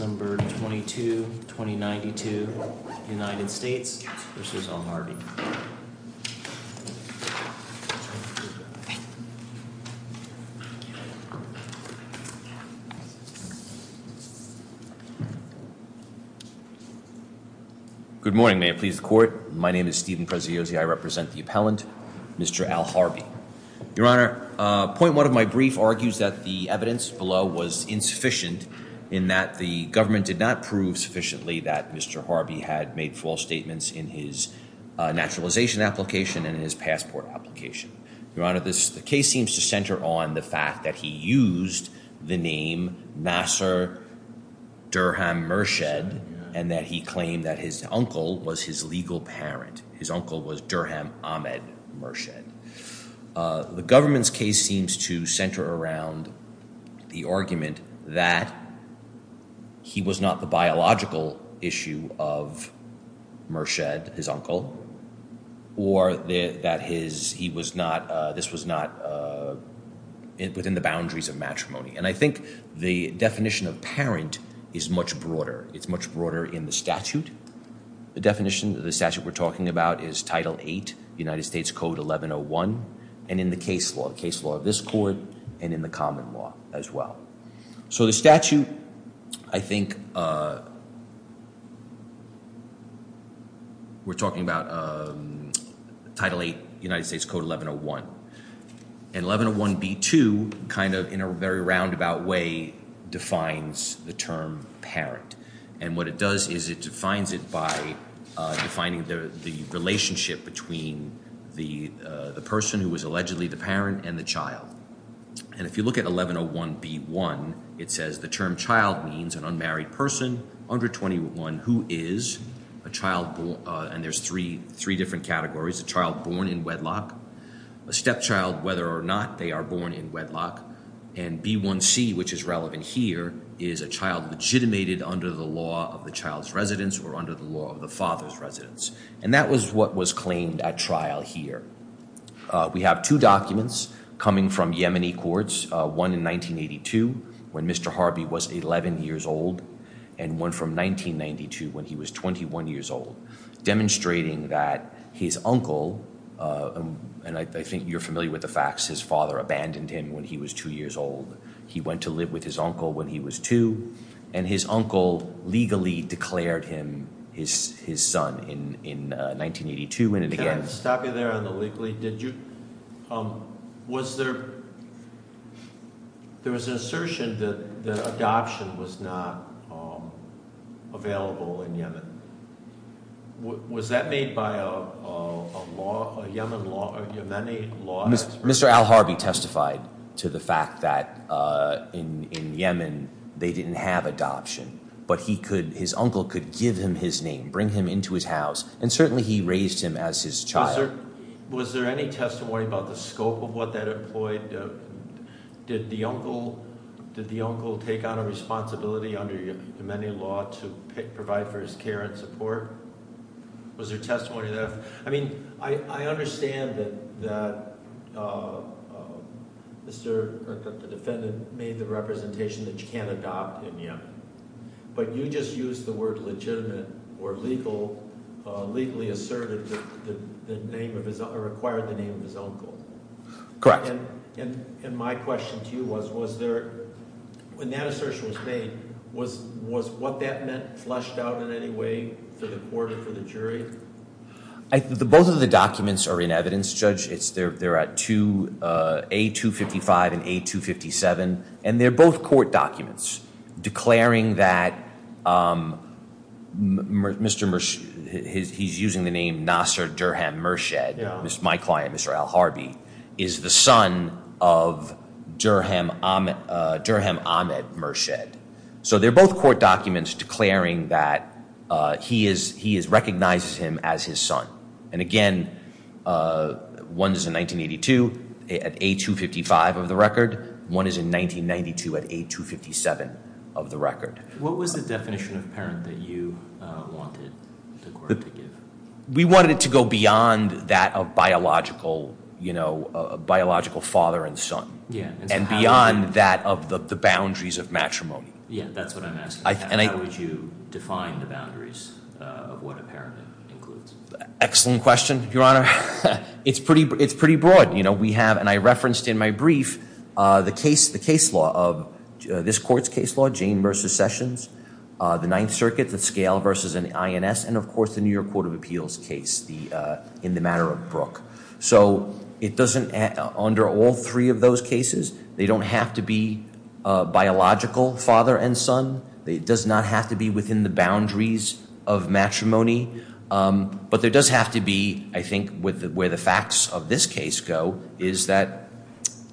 Good morning. May it please the Court. My name is Stephen Preziosi. I represent the appellant, Mr. Alharbi. Your Honor, point one of my brief argues that the evidence below was insufficient in that the government did not prove sufficiently that Mr. Alharbi had made false statements in his naturalization application and in his passport application. Your Honor, the case seems to center on the fact that he used the name Nasser Durham Murshed and that he claimed that his uncle was his legal parent. His uncle was Durham Ahmed Murshed. The government's case seems to center around the argument that he was not the biological issue of Murshed, his uncle, or that this was not within the boundaries of matrimony. And I think the definition of parent is much broader. It's much broader in the statute. The definition, the statute we're talking about, is Title VIII, United States Code 1101, and in the case law, the case law of this Court, and in the common law as well. So the statute, I think we're talking about Title VIII, United States Code 1101. And 1101b2, kind of in a very roundabout way, defines the term parent. And what it does is it defines it by defining the relationship between the person who was allegedly the parent and the child. And if you look at 1101b1, it says the term child means an unmarried person under 21 who is a child, and there's three different categories, a child born in wedlock, a stepchild, whether or not they are born in wedlock, and b1c, which is relevant here, is a child legitimated under the law of the child's residence or under the law of the father's residence. And that was what was claimed at trial here. We have two documents coming from Yemeni courts, one in 1982, when Mr. Harby was 11 years old, and one from 1992 when he was 21 years old, demonstrating that his uncle, and I think you're familiar with the facts, his father abandoned him when he was two years old. He went to live with his uncle when he was two, and his uncle legally declared him his son in 1982, and it began- Can I stop you there on the legally? Did you, was there, there was an assertion that adoption was not Mr. Harby testified to the fact that in Yemen, they didn't have adoption, but he could, his uncle could give him his name, bring him into his house, and certainly he raised him as his child. Was there any testimony about the scope of what that employed? Did the uncle, did the uncle take on a responsibility under Yemeni law to provide for his care and support? Was there testimony of that? I mean, I understand that the defendant made the representation that you can't adopt in Yemen, but you just used the word legitimate or legal, legally asserted the name of his, or acquired the name of his uncle. Correct. And my question to you was, was there, when that assertion was made, was what that meant fleshed out in any way for the court or for the jury? Both of the documents are in evidence, Judge. They're at A255 and A257, and they're both court documents, declaring that Mr. Murshid, he's using the name Nasser Durham Murshid, my client, Mr. Al Harby, is the son of Durham Ahmed Murshid. So they're both court documents declaring that he recognizes him as his son. And again, one is in 1982 at A255 of the record. One is in 1992 at A257 of the record. What was the definition of parent that you wanted the court to give? We wanted it to go beyond that of biological, you know, biological father and son. And beyond that of the boundaries of matrimony. Yeah, that's what I'm asking. How would you define the boundaries of what a parent includes? Excellent question, Your Honor. It's pretty broad. You know, we have, and I referenced in my brief, the case, the case law of this court's case law, Jane versus Sessions, the Ninth Circuit, the scale versus an INS, and of course the New York Court of Appeals case in the matter of Brooke. So it doesn't, under all three of those cases, they don't have to be biological father and son. It does not have to be within the boundaries of matrimony. But there does have to be, I think, where the facts of this case go, is that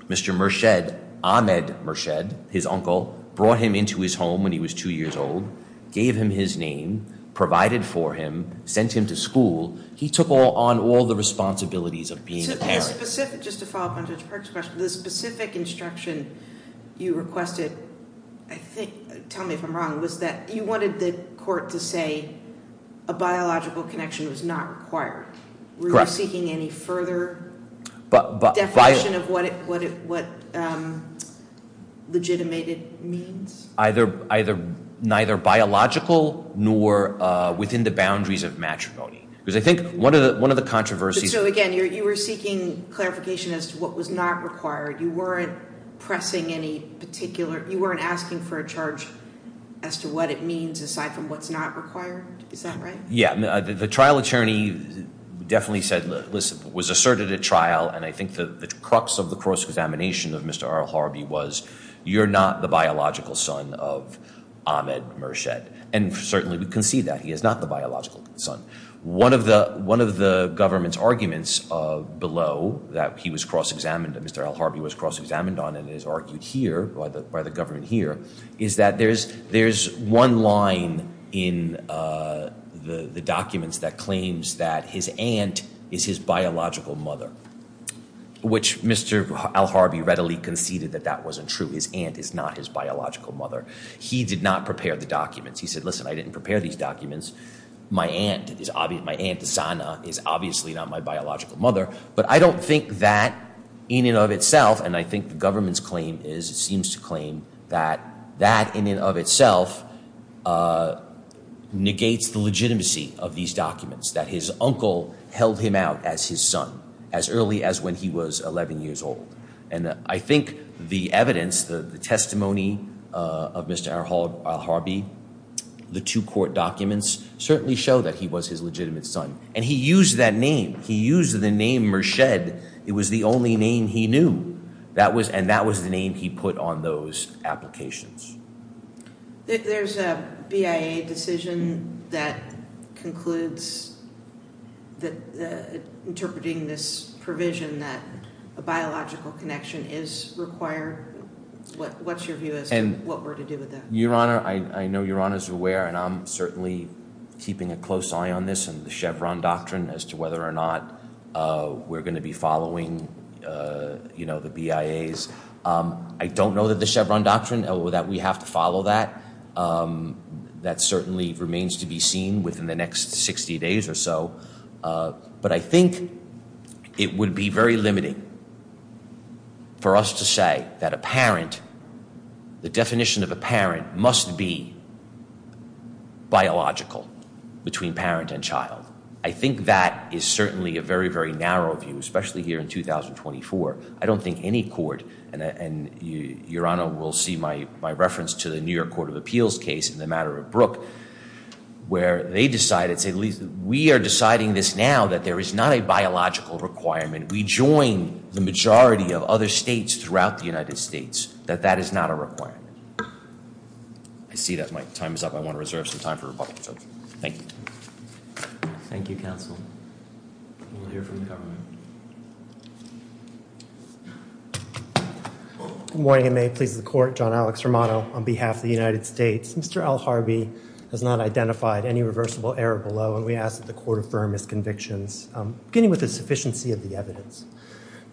Mr. Murshed, Ahmed Murshed, his uncle, brought him into his home when he was two years old, gave him his name, provided for him, sent him to school. Just to follow up on Judge Perks' question, the specific instruction you requested, I think, tell me if I'm wrong, was that you wanted the court to say a biological connection was not required. Correct. Were you seeking any further definition of what legitimated means? Either, neither biological nor within the boundaries of matrimony. Because I think one of the controversies- So again, you were seeking clarification as to what was not required. You weren't pressing any particular, you weren't asking for a charge as to what it means, aside from what's not required, is that right? Yeah, the trial attorney definitely said, was asserted at trial, and I think the crux of the cross-examination of Mr. Earl Harvey was, you're not the biological son of Ahmed Murshed. And certainly we concede that, he is not the biological son. One of the government's arguments below that he was cross-examined, that Mr. Earl Harvey was cross-examined on and is argued here, by the government here, is that there's one line in the documents that claims that his aunt is his biological mother. Which Mr. Earl Harvey readily conceded that that wasn't true. His aunt is not his biological mother. He did not prepare the documents. He said, listen, I didn't prepare these documents. My aunt, Zana, is obviously not my biological mother. But I don't think that, in and of itself, and I think the government's claim is, it seems to claim that, that in and of itself, negates the legitimacy of these documents. That his uncle held him out as his son, as early as when he was 11 years old. And I think the evidence, the testimony of Mr. Earl Harvey, the two court documents, certainly show that he was his legitimate son. And he used that name. He used the name Merced. It was the only name he knew. And that was the name he put on those applications. There's a BIA decision that concludes, interpreting this provision, that a biological connection is required. What's your view as to what we're to do with that? Your Honor, I know Your Honor is aware, and I'm certainly keeping a close eye on this, on the Chevron Doctrine, as to whether or not we're going to be following the BIAs. I don't know that the Chevron Doctrine, or that we have to follow that. That certainly remains to be seen within the next 60 days or so. But I think it would be very limiting for us to say that a parent, the definition of a parent must be biological between parent and child. I think that is certainly a very, very narrow view, especially here in 2024. I don't think any court, and Your Honor will see my reference to the New York Court of Appeals case, in the matter of Brooke, where they decided, we are deciding this now, that there is not a biological requirement. We join the majority of other states throughout the United States, that that is not a requirement. I see that my time is up. I want to reserve some time for Republicans. Thank you. Thank you, counsel. We'll hear from the government. Good morning, and may it please the Court. John Alex Romano on behalf of the United States. Mr. L. Harvey has not identified any reversible error below, and we ask that the Court affirm his convictions, beginning with the sufficiency of the evidence.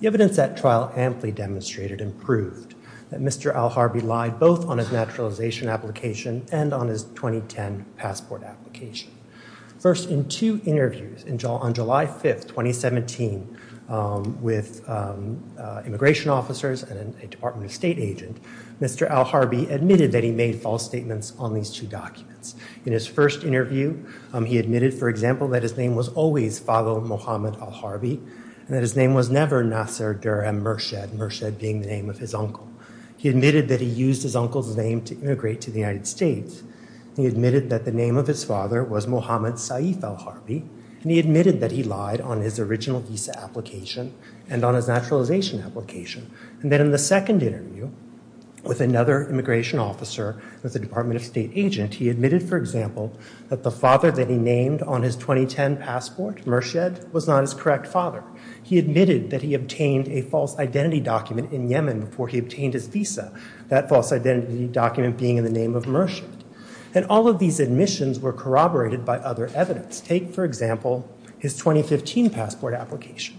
The evidence at trial amply demonstrated and proved that Mr. L. Harvey lied, both on his naturalization application and on his 2010 passport application. First, in two interviews on July 5th, 2017, with immigration officers and a Department of State agent, Mr. L. Harvey admitted that he made false statements on these two documents. In his first interview, he admitted, for example, that his name was always Father Mohamed Al-Harvey, and that his name was never Nasser Duraim Murshid, Murshid being the name of his uncle. He admitted that he used his uncle's name to immigrate to the United States. He admitted that the name of his father was Mohamed Saif Al-Harvey, and he admitted that he lied on his original visa application and on his naturalization application. And then in the second interview, with another immigration officer with a Department of State agent, he admitted, for example, that the father that he named on his 2010 passport, Murshid, was not his correct father. He admitted that he obtained a false identity document in Yemen before he obtained his visa, that false identity document being in the name of Murshid. And all of these admissions were corroborated by other evidence. Take, for example, his 2015 passport application,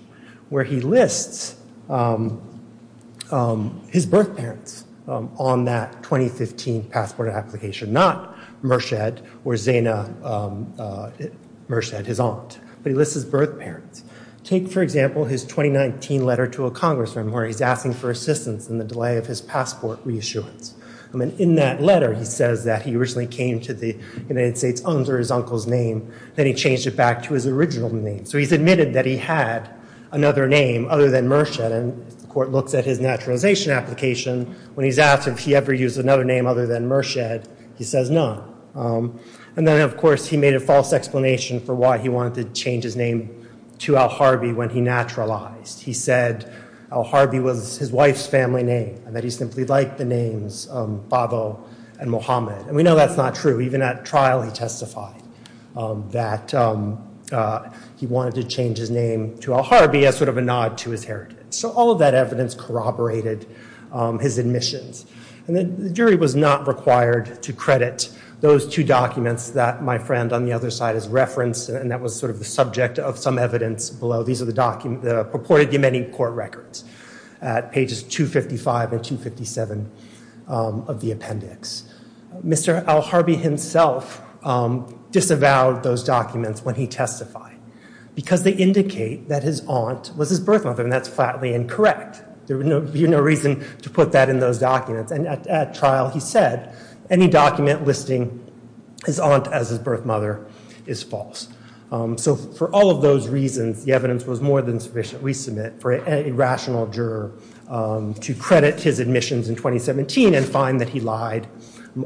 where he lists his birth parents on that 2015 passport application, not Murshid or Zayna Murshid, his aunt, but he lists his birth parents. Take, for example, his 2019 letter to a congressman where he's asking for assistance in the delay of his passport reissuance. In that letter, he says that he originally came to the United States under his uncle's name, then he changed it back to his original name. So he's admitted that he had another name other than Murshid, and the court looks at his naturalization application, when he's asked if he ever used another name other than Murshid, he says none. And then, of course, he made a false explanation for why he wanted to change his name to Al-Harbi when he naturalized. He said Al-Harbi was his wife's family name, and that he simply liked the names Bavo and Mohammed. And we know that's not true. Even at trial, he testified that he wanted to change his name to Al-Harbi as sort of a nod to his heritage. So all of that evidence corroborated his admissions. And the jury was not required to credit those two documents that my friend on the other side has referenced, and that was sort of the subject of some evidence below. These are the purported Yemeni court records at pages 255 and 257 of the appendix. Mr. Al-Harbi himself disavowed those documents when he testified, because they indicate that his aunt was his birth mother, and that's flatly incorrect. There would be no reason to put that in those documents. And at trial, he said any document listing his aunt as his birth mother is false. So for all of those reasons, the evidence was more than sufficient. We submit for a rational juror to credit his admissions in 2017 and find that he lied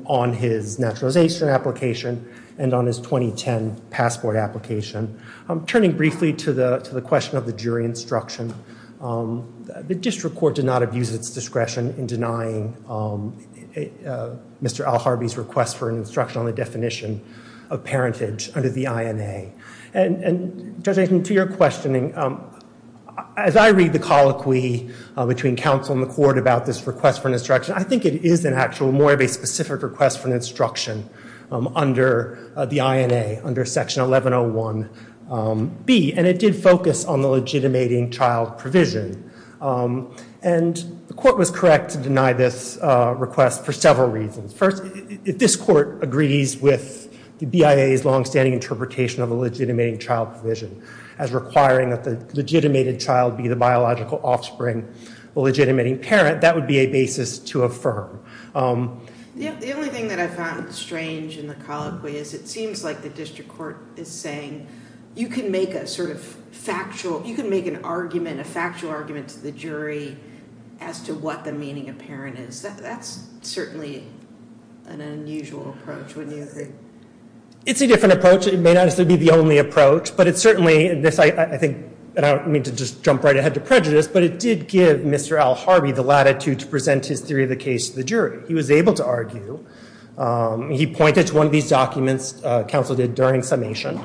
on his naturalization application and on his 2010 passport application. Turning briefly to the question of the jury instruction, the district court did not abuse its discretion in denying Mr. Al-Harbi's request for an instruction on the definition of parentage under the INA. And, Judge Aitken, to your questioning, as I read the colloquy between counsel and the court about this request for an instruction, I think it is more of a specific request for an instruction under the INA, under Section 1101B. And it did focus on the legitimating child provision. And the court was correct to deny this request for several reasons. First, if this court agrees with the BIA's longstanding interpretation of the legitimating child provision, as requiring that the legitimated child be the biological offspring, the legitimating parent, that would be a basis to affirm. The only thing that I found strange in the colloquy is it seems like the district court is saying you can make a sort of factual, you can make an argument, a factual argument to the jury as to what the meaning of parent is. That's certainly an unusual approach, wouldn't you agree? It's a different approach. It may not necessarily be the only approach. But it certainly, and I don't mean to just jump right ahead to prejudice, but it did give Mr. Al Harby the latitude to present his theory of the case to the jury. He was able to argue. He pointed to one of these documents counsel did during summation.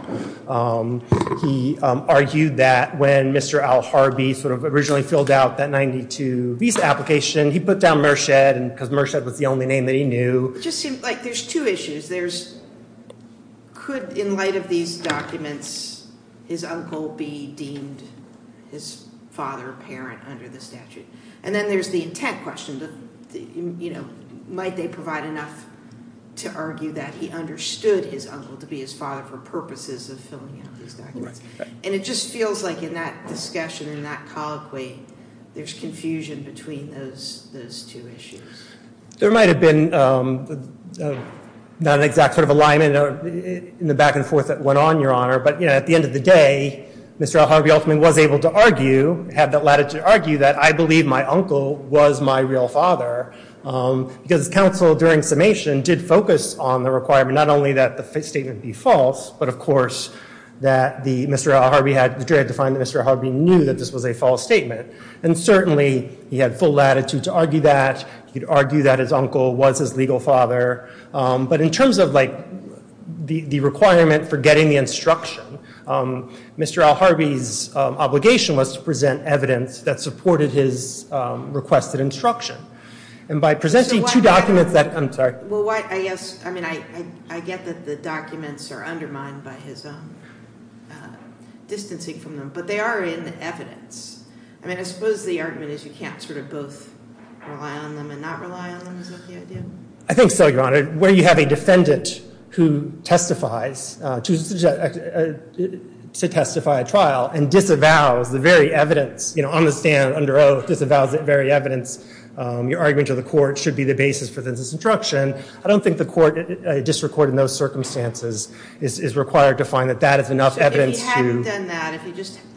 He argued that when Mr. Al Harby sort of originally filled out that 92 visa application, he put down Merched, because Merched was the only name that he knew. There's two issues. Could, in light of these documents, his uncle be deemed his father or parent under the statute? And then there's the intent question. Might they provide enough to argue that he understood his uncle to be his father for purposes of filling out these documents? And it just feels like in that discussion, in that colloquy, there's confusion between those two issues. There might have been not an exact sort of alignment in the back and forth that went on, Your Honor, but at the end of the day, Mr. Al Harby ultimately was able to argue, had that latitude to argue, that I believe my uncle was my real father. Because counsel during summation did focus on the requirement, not only that the statement be false, but of course, that the jury had to find that Mr. Al Harby knew that this was a false statement. And certainly, he had full latitude to argue that. He could argue that his uncle was his legal father. But in terms of the requirement for getting the instruction, Mr. Al Harby's obligation was to present evidence that supported his requested instruction. And by presenting two documents that... I'm sorry. I mean, I get that the documents are undermined by his distancing from them, but they are in evidence. I mean, I suppose the argument is you can't sort of both rely on them and not rely on them. Is that the idea? I think so, Your Honor. Where you have a defendant who testifies to testify at trial and disavows the very evidence, you know, on the stand, under oath, disavows the very evidence, your argument to the court should be the basis for this instruction. I don't think the court, district court in those circumstances, is required to find that that is enough evidence to... I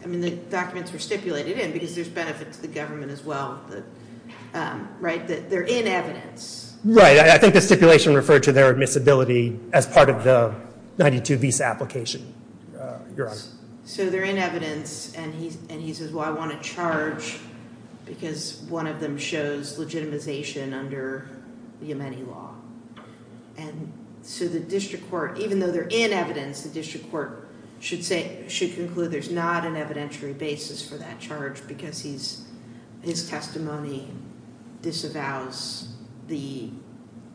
mean, the documents were stipulated in because there's benefits to the government as well, right? They're in evidence. Right. I think the stipulation referred to their admissibility as part of the 92 visa application, Your Honor. So they're in evidence, and he says, well, I want to charge because one of them shows legitimization under the Yemeni law. And so the district court, even though they're in evidence, the district court should conclude there's not an evidentiary basis for that charge because his testimony disavows the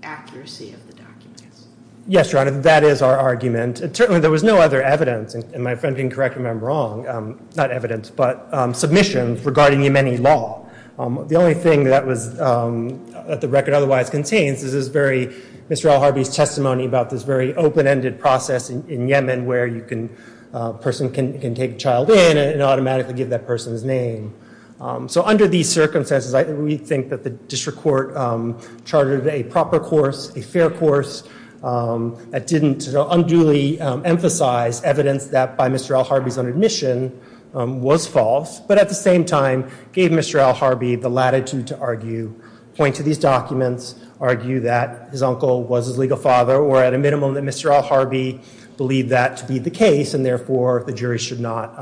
accuracy of the documents. Yes, Your Honor, that is our argument. Certainly, there was no other evidence, and my friend can correct me if I'm wrong, not evidence, but submissions regarding the Yemeni law. The only thing that the record otherwise contains is this very... person can take a child in and automatically give that person's name. So under these circumstances, I think we think that the district court charted a proper course, a fair course, that didn't unduly emphasize evidence that by Mr. Al Harby's own admission was false, but at the same time gave Mr. Al Harby the latitude to argue, point to these documents, argue that his uncle was his legal father, or at a minimum that Mr. Al Harby believed that to be the case, and therefore the jury should not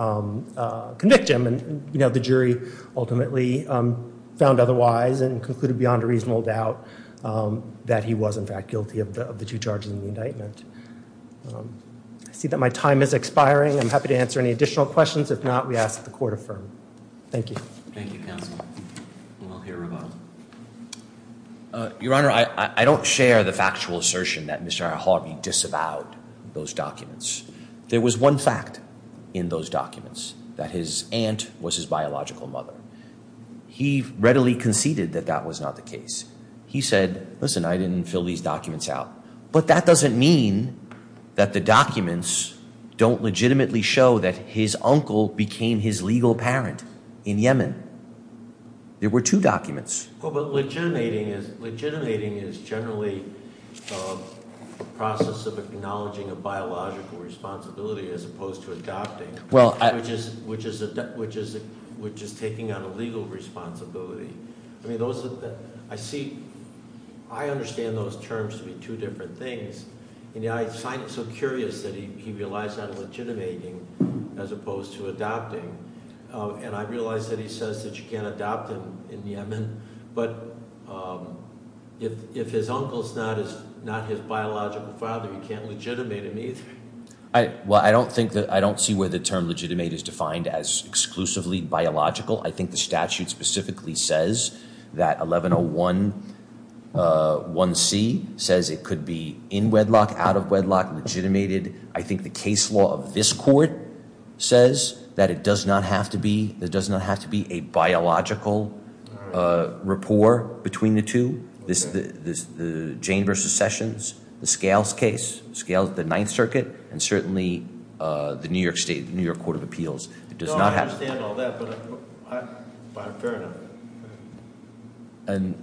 convict him. And the jury ultimately found otherwise and concluded beyond a reasonable doubt that he was in fact guilty of the two charges in the indictment. I see that my time is expiring. I'm happy to answer any additional questions. If not, we ask that the court affirm. Thank you. Thank you, counsel. We'll hear from him. Your Honor, I don't share the factual assertion that Mr. Al Harby disavowed those documents. There was one fact in those documents, that his aunt was his biological mother. He readily conceded that that was not the case. He said, listen, I didn't fill these documents out. But that doesn't mean that the documents don't legitimately show that his uncle became his legal parent in Yemen. There were two documents. Legitimating is generally a process of acknowledging a biological responsibility as opposed to adopting, which is taking on a legal responsibility. I understand those terms to be two different things. I find it so curious that he realized that legitimating as opposed to adopting. And I realize that he says that you can't adopt him in Yemen. But if his uncle is not his biological father, you can't legitimate him either. Well, I don't see where the term legitimate is defined as exclusively biological. I think the statute specifically says that 1101C says it could be in wedlock, out of wedlock, legitimated. I think the case law of this court says that it does not have to be a biological rapport between the two. The Jane v. Sessions, the Scales case, the Ninth Circuit, and certainly the New York State, the New York Court of Appeals. No, I understand all that, but I find it fair enough.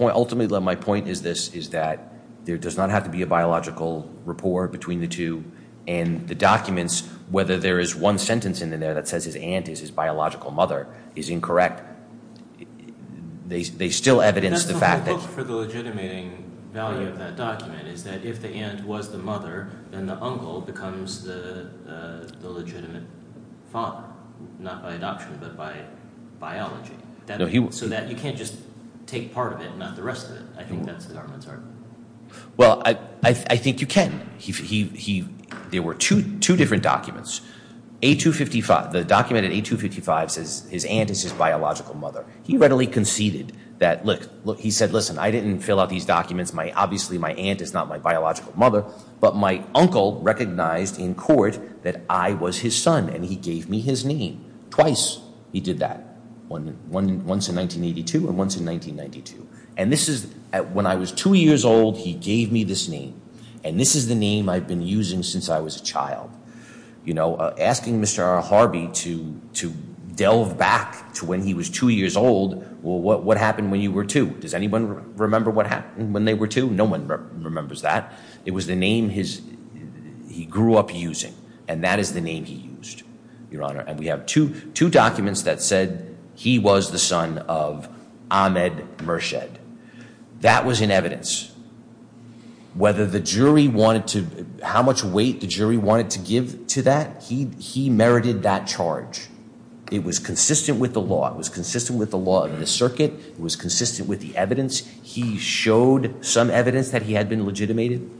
Ultimately, my point is that there does not have to be a biological rapport between the two. And the documents, whether there is one sentence in there that says his aunt is his biological mother, is incorrect. They still evidence the fact that... That's the whole hope for the legitimating value of that document, is that if the aunt was the mother, then the uncle becomes the legitimate father. Not by adoption, but by biology. So that you can't just take part of it and not the rest of it. I think that's the government's argument. Well, I think you can. There were two different documents. A255, the document at A255 says his aunt is his biological mother. He readily conceded that, look, he said, listen, I didn't fill out these documents, obviously my aunt is not my biological mother, but my uncle recognized in court that I was his son and he gave me his name. Twice he did that. Once in 1982 and once in 1992. And this is when I was two years old, he gave me this name. And this is the name I've been using since I was a child. You know, asking Mr. Harvey to delve back to when he was two years old, what happened when you were two? Does anyone remember what happened when they were two? No one remembers that. It was the name he grew up using. And that is the name he used, Your Honor. And we have two documents that said he was the son of Ahmed Merced. That was in evidence. Whether the jury wanted to, how much weight the jury wanted to give to that, he merited that charge. It was consistent with the law. It was consistent with the law of the circuit. It was consistent with the evidence. He showed some evidence that he had been legitimated.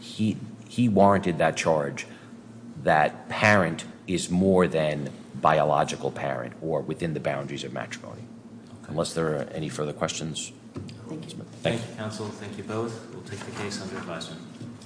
He warranted that charge that parent is more than biological parent or within the boundaries of matrimony. Unless there are any further questions? Thank you. Thank you, counsel. Thank you both. We'll take the case under advisement.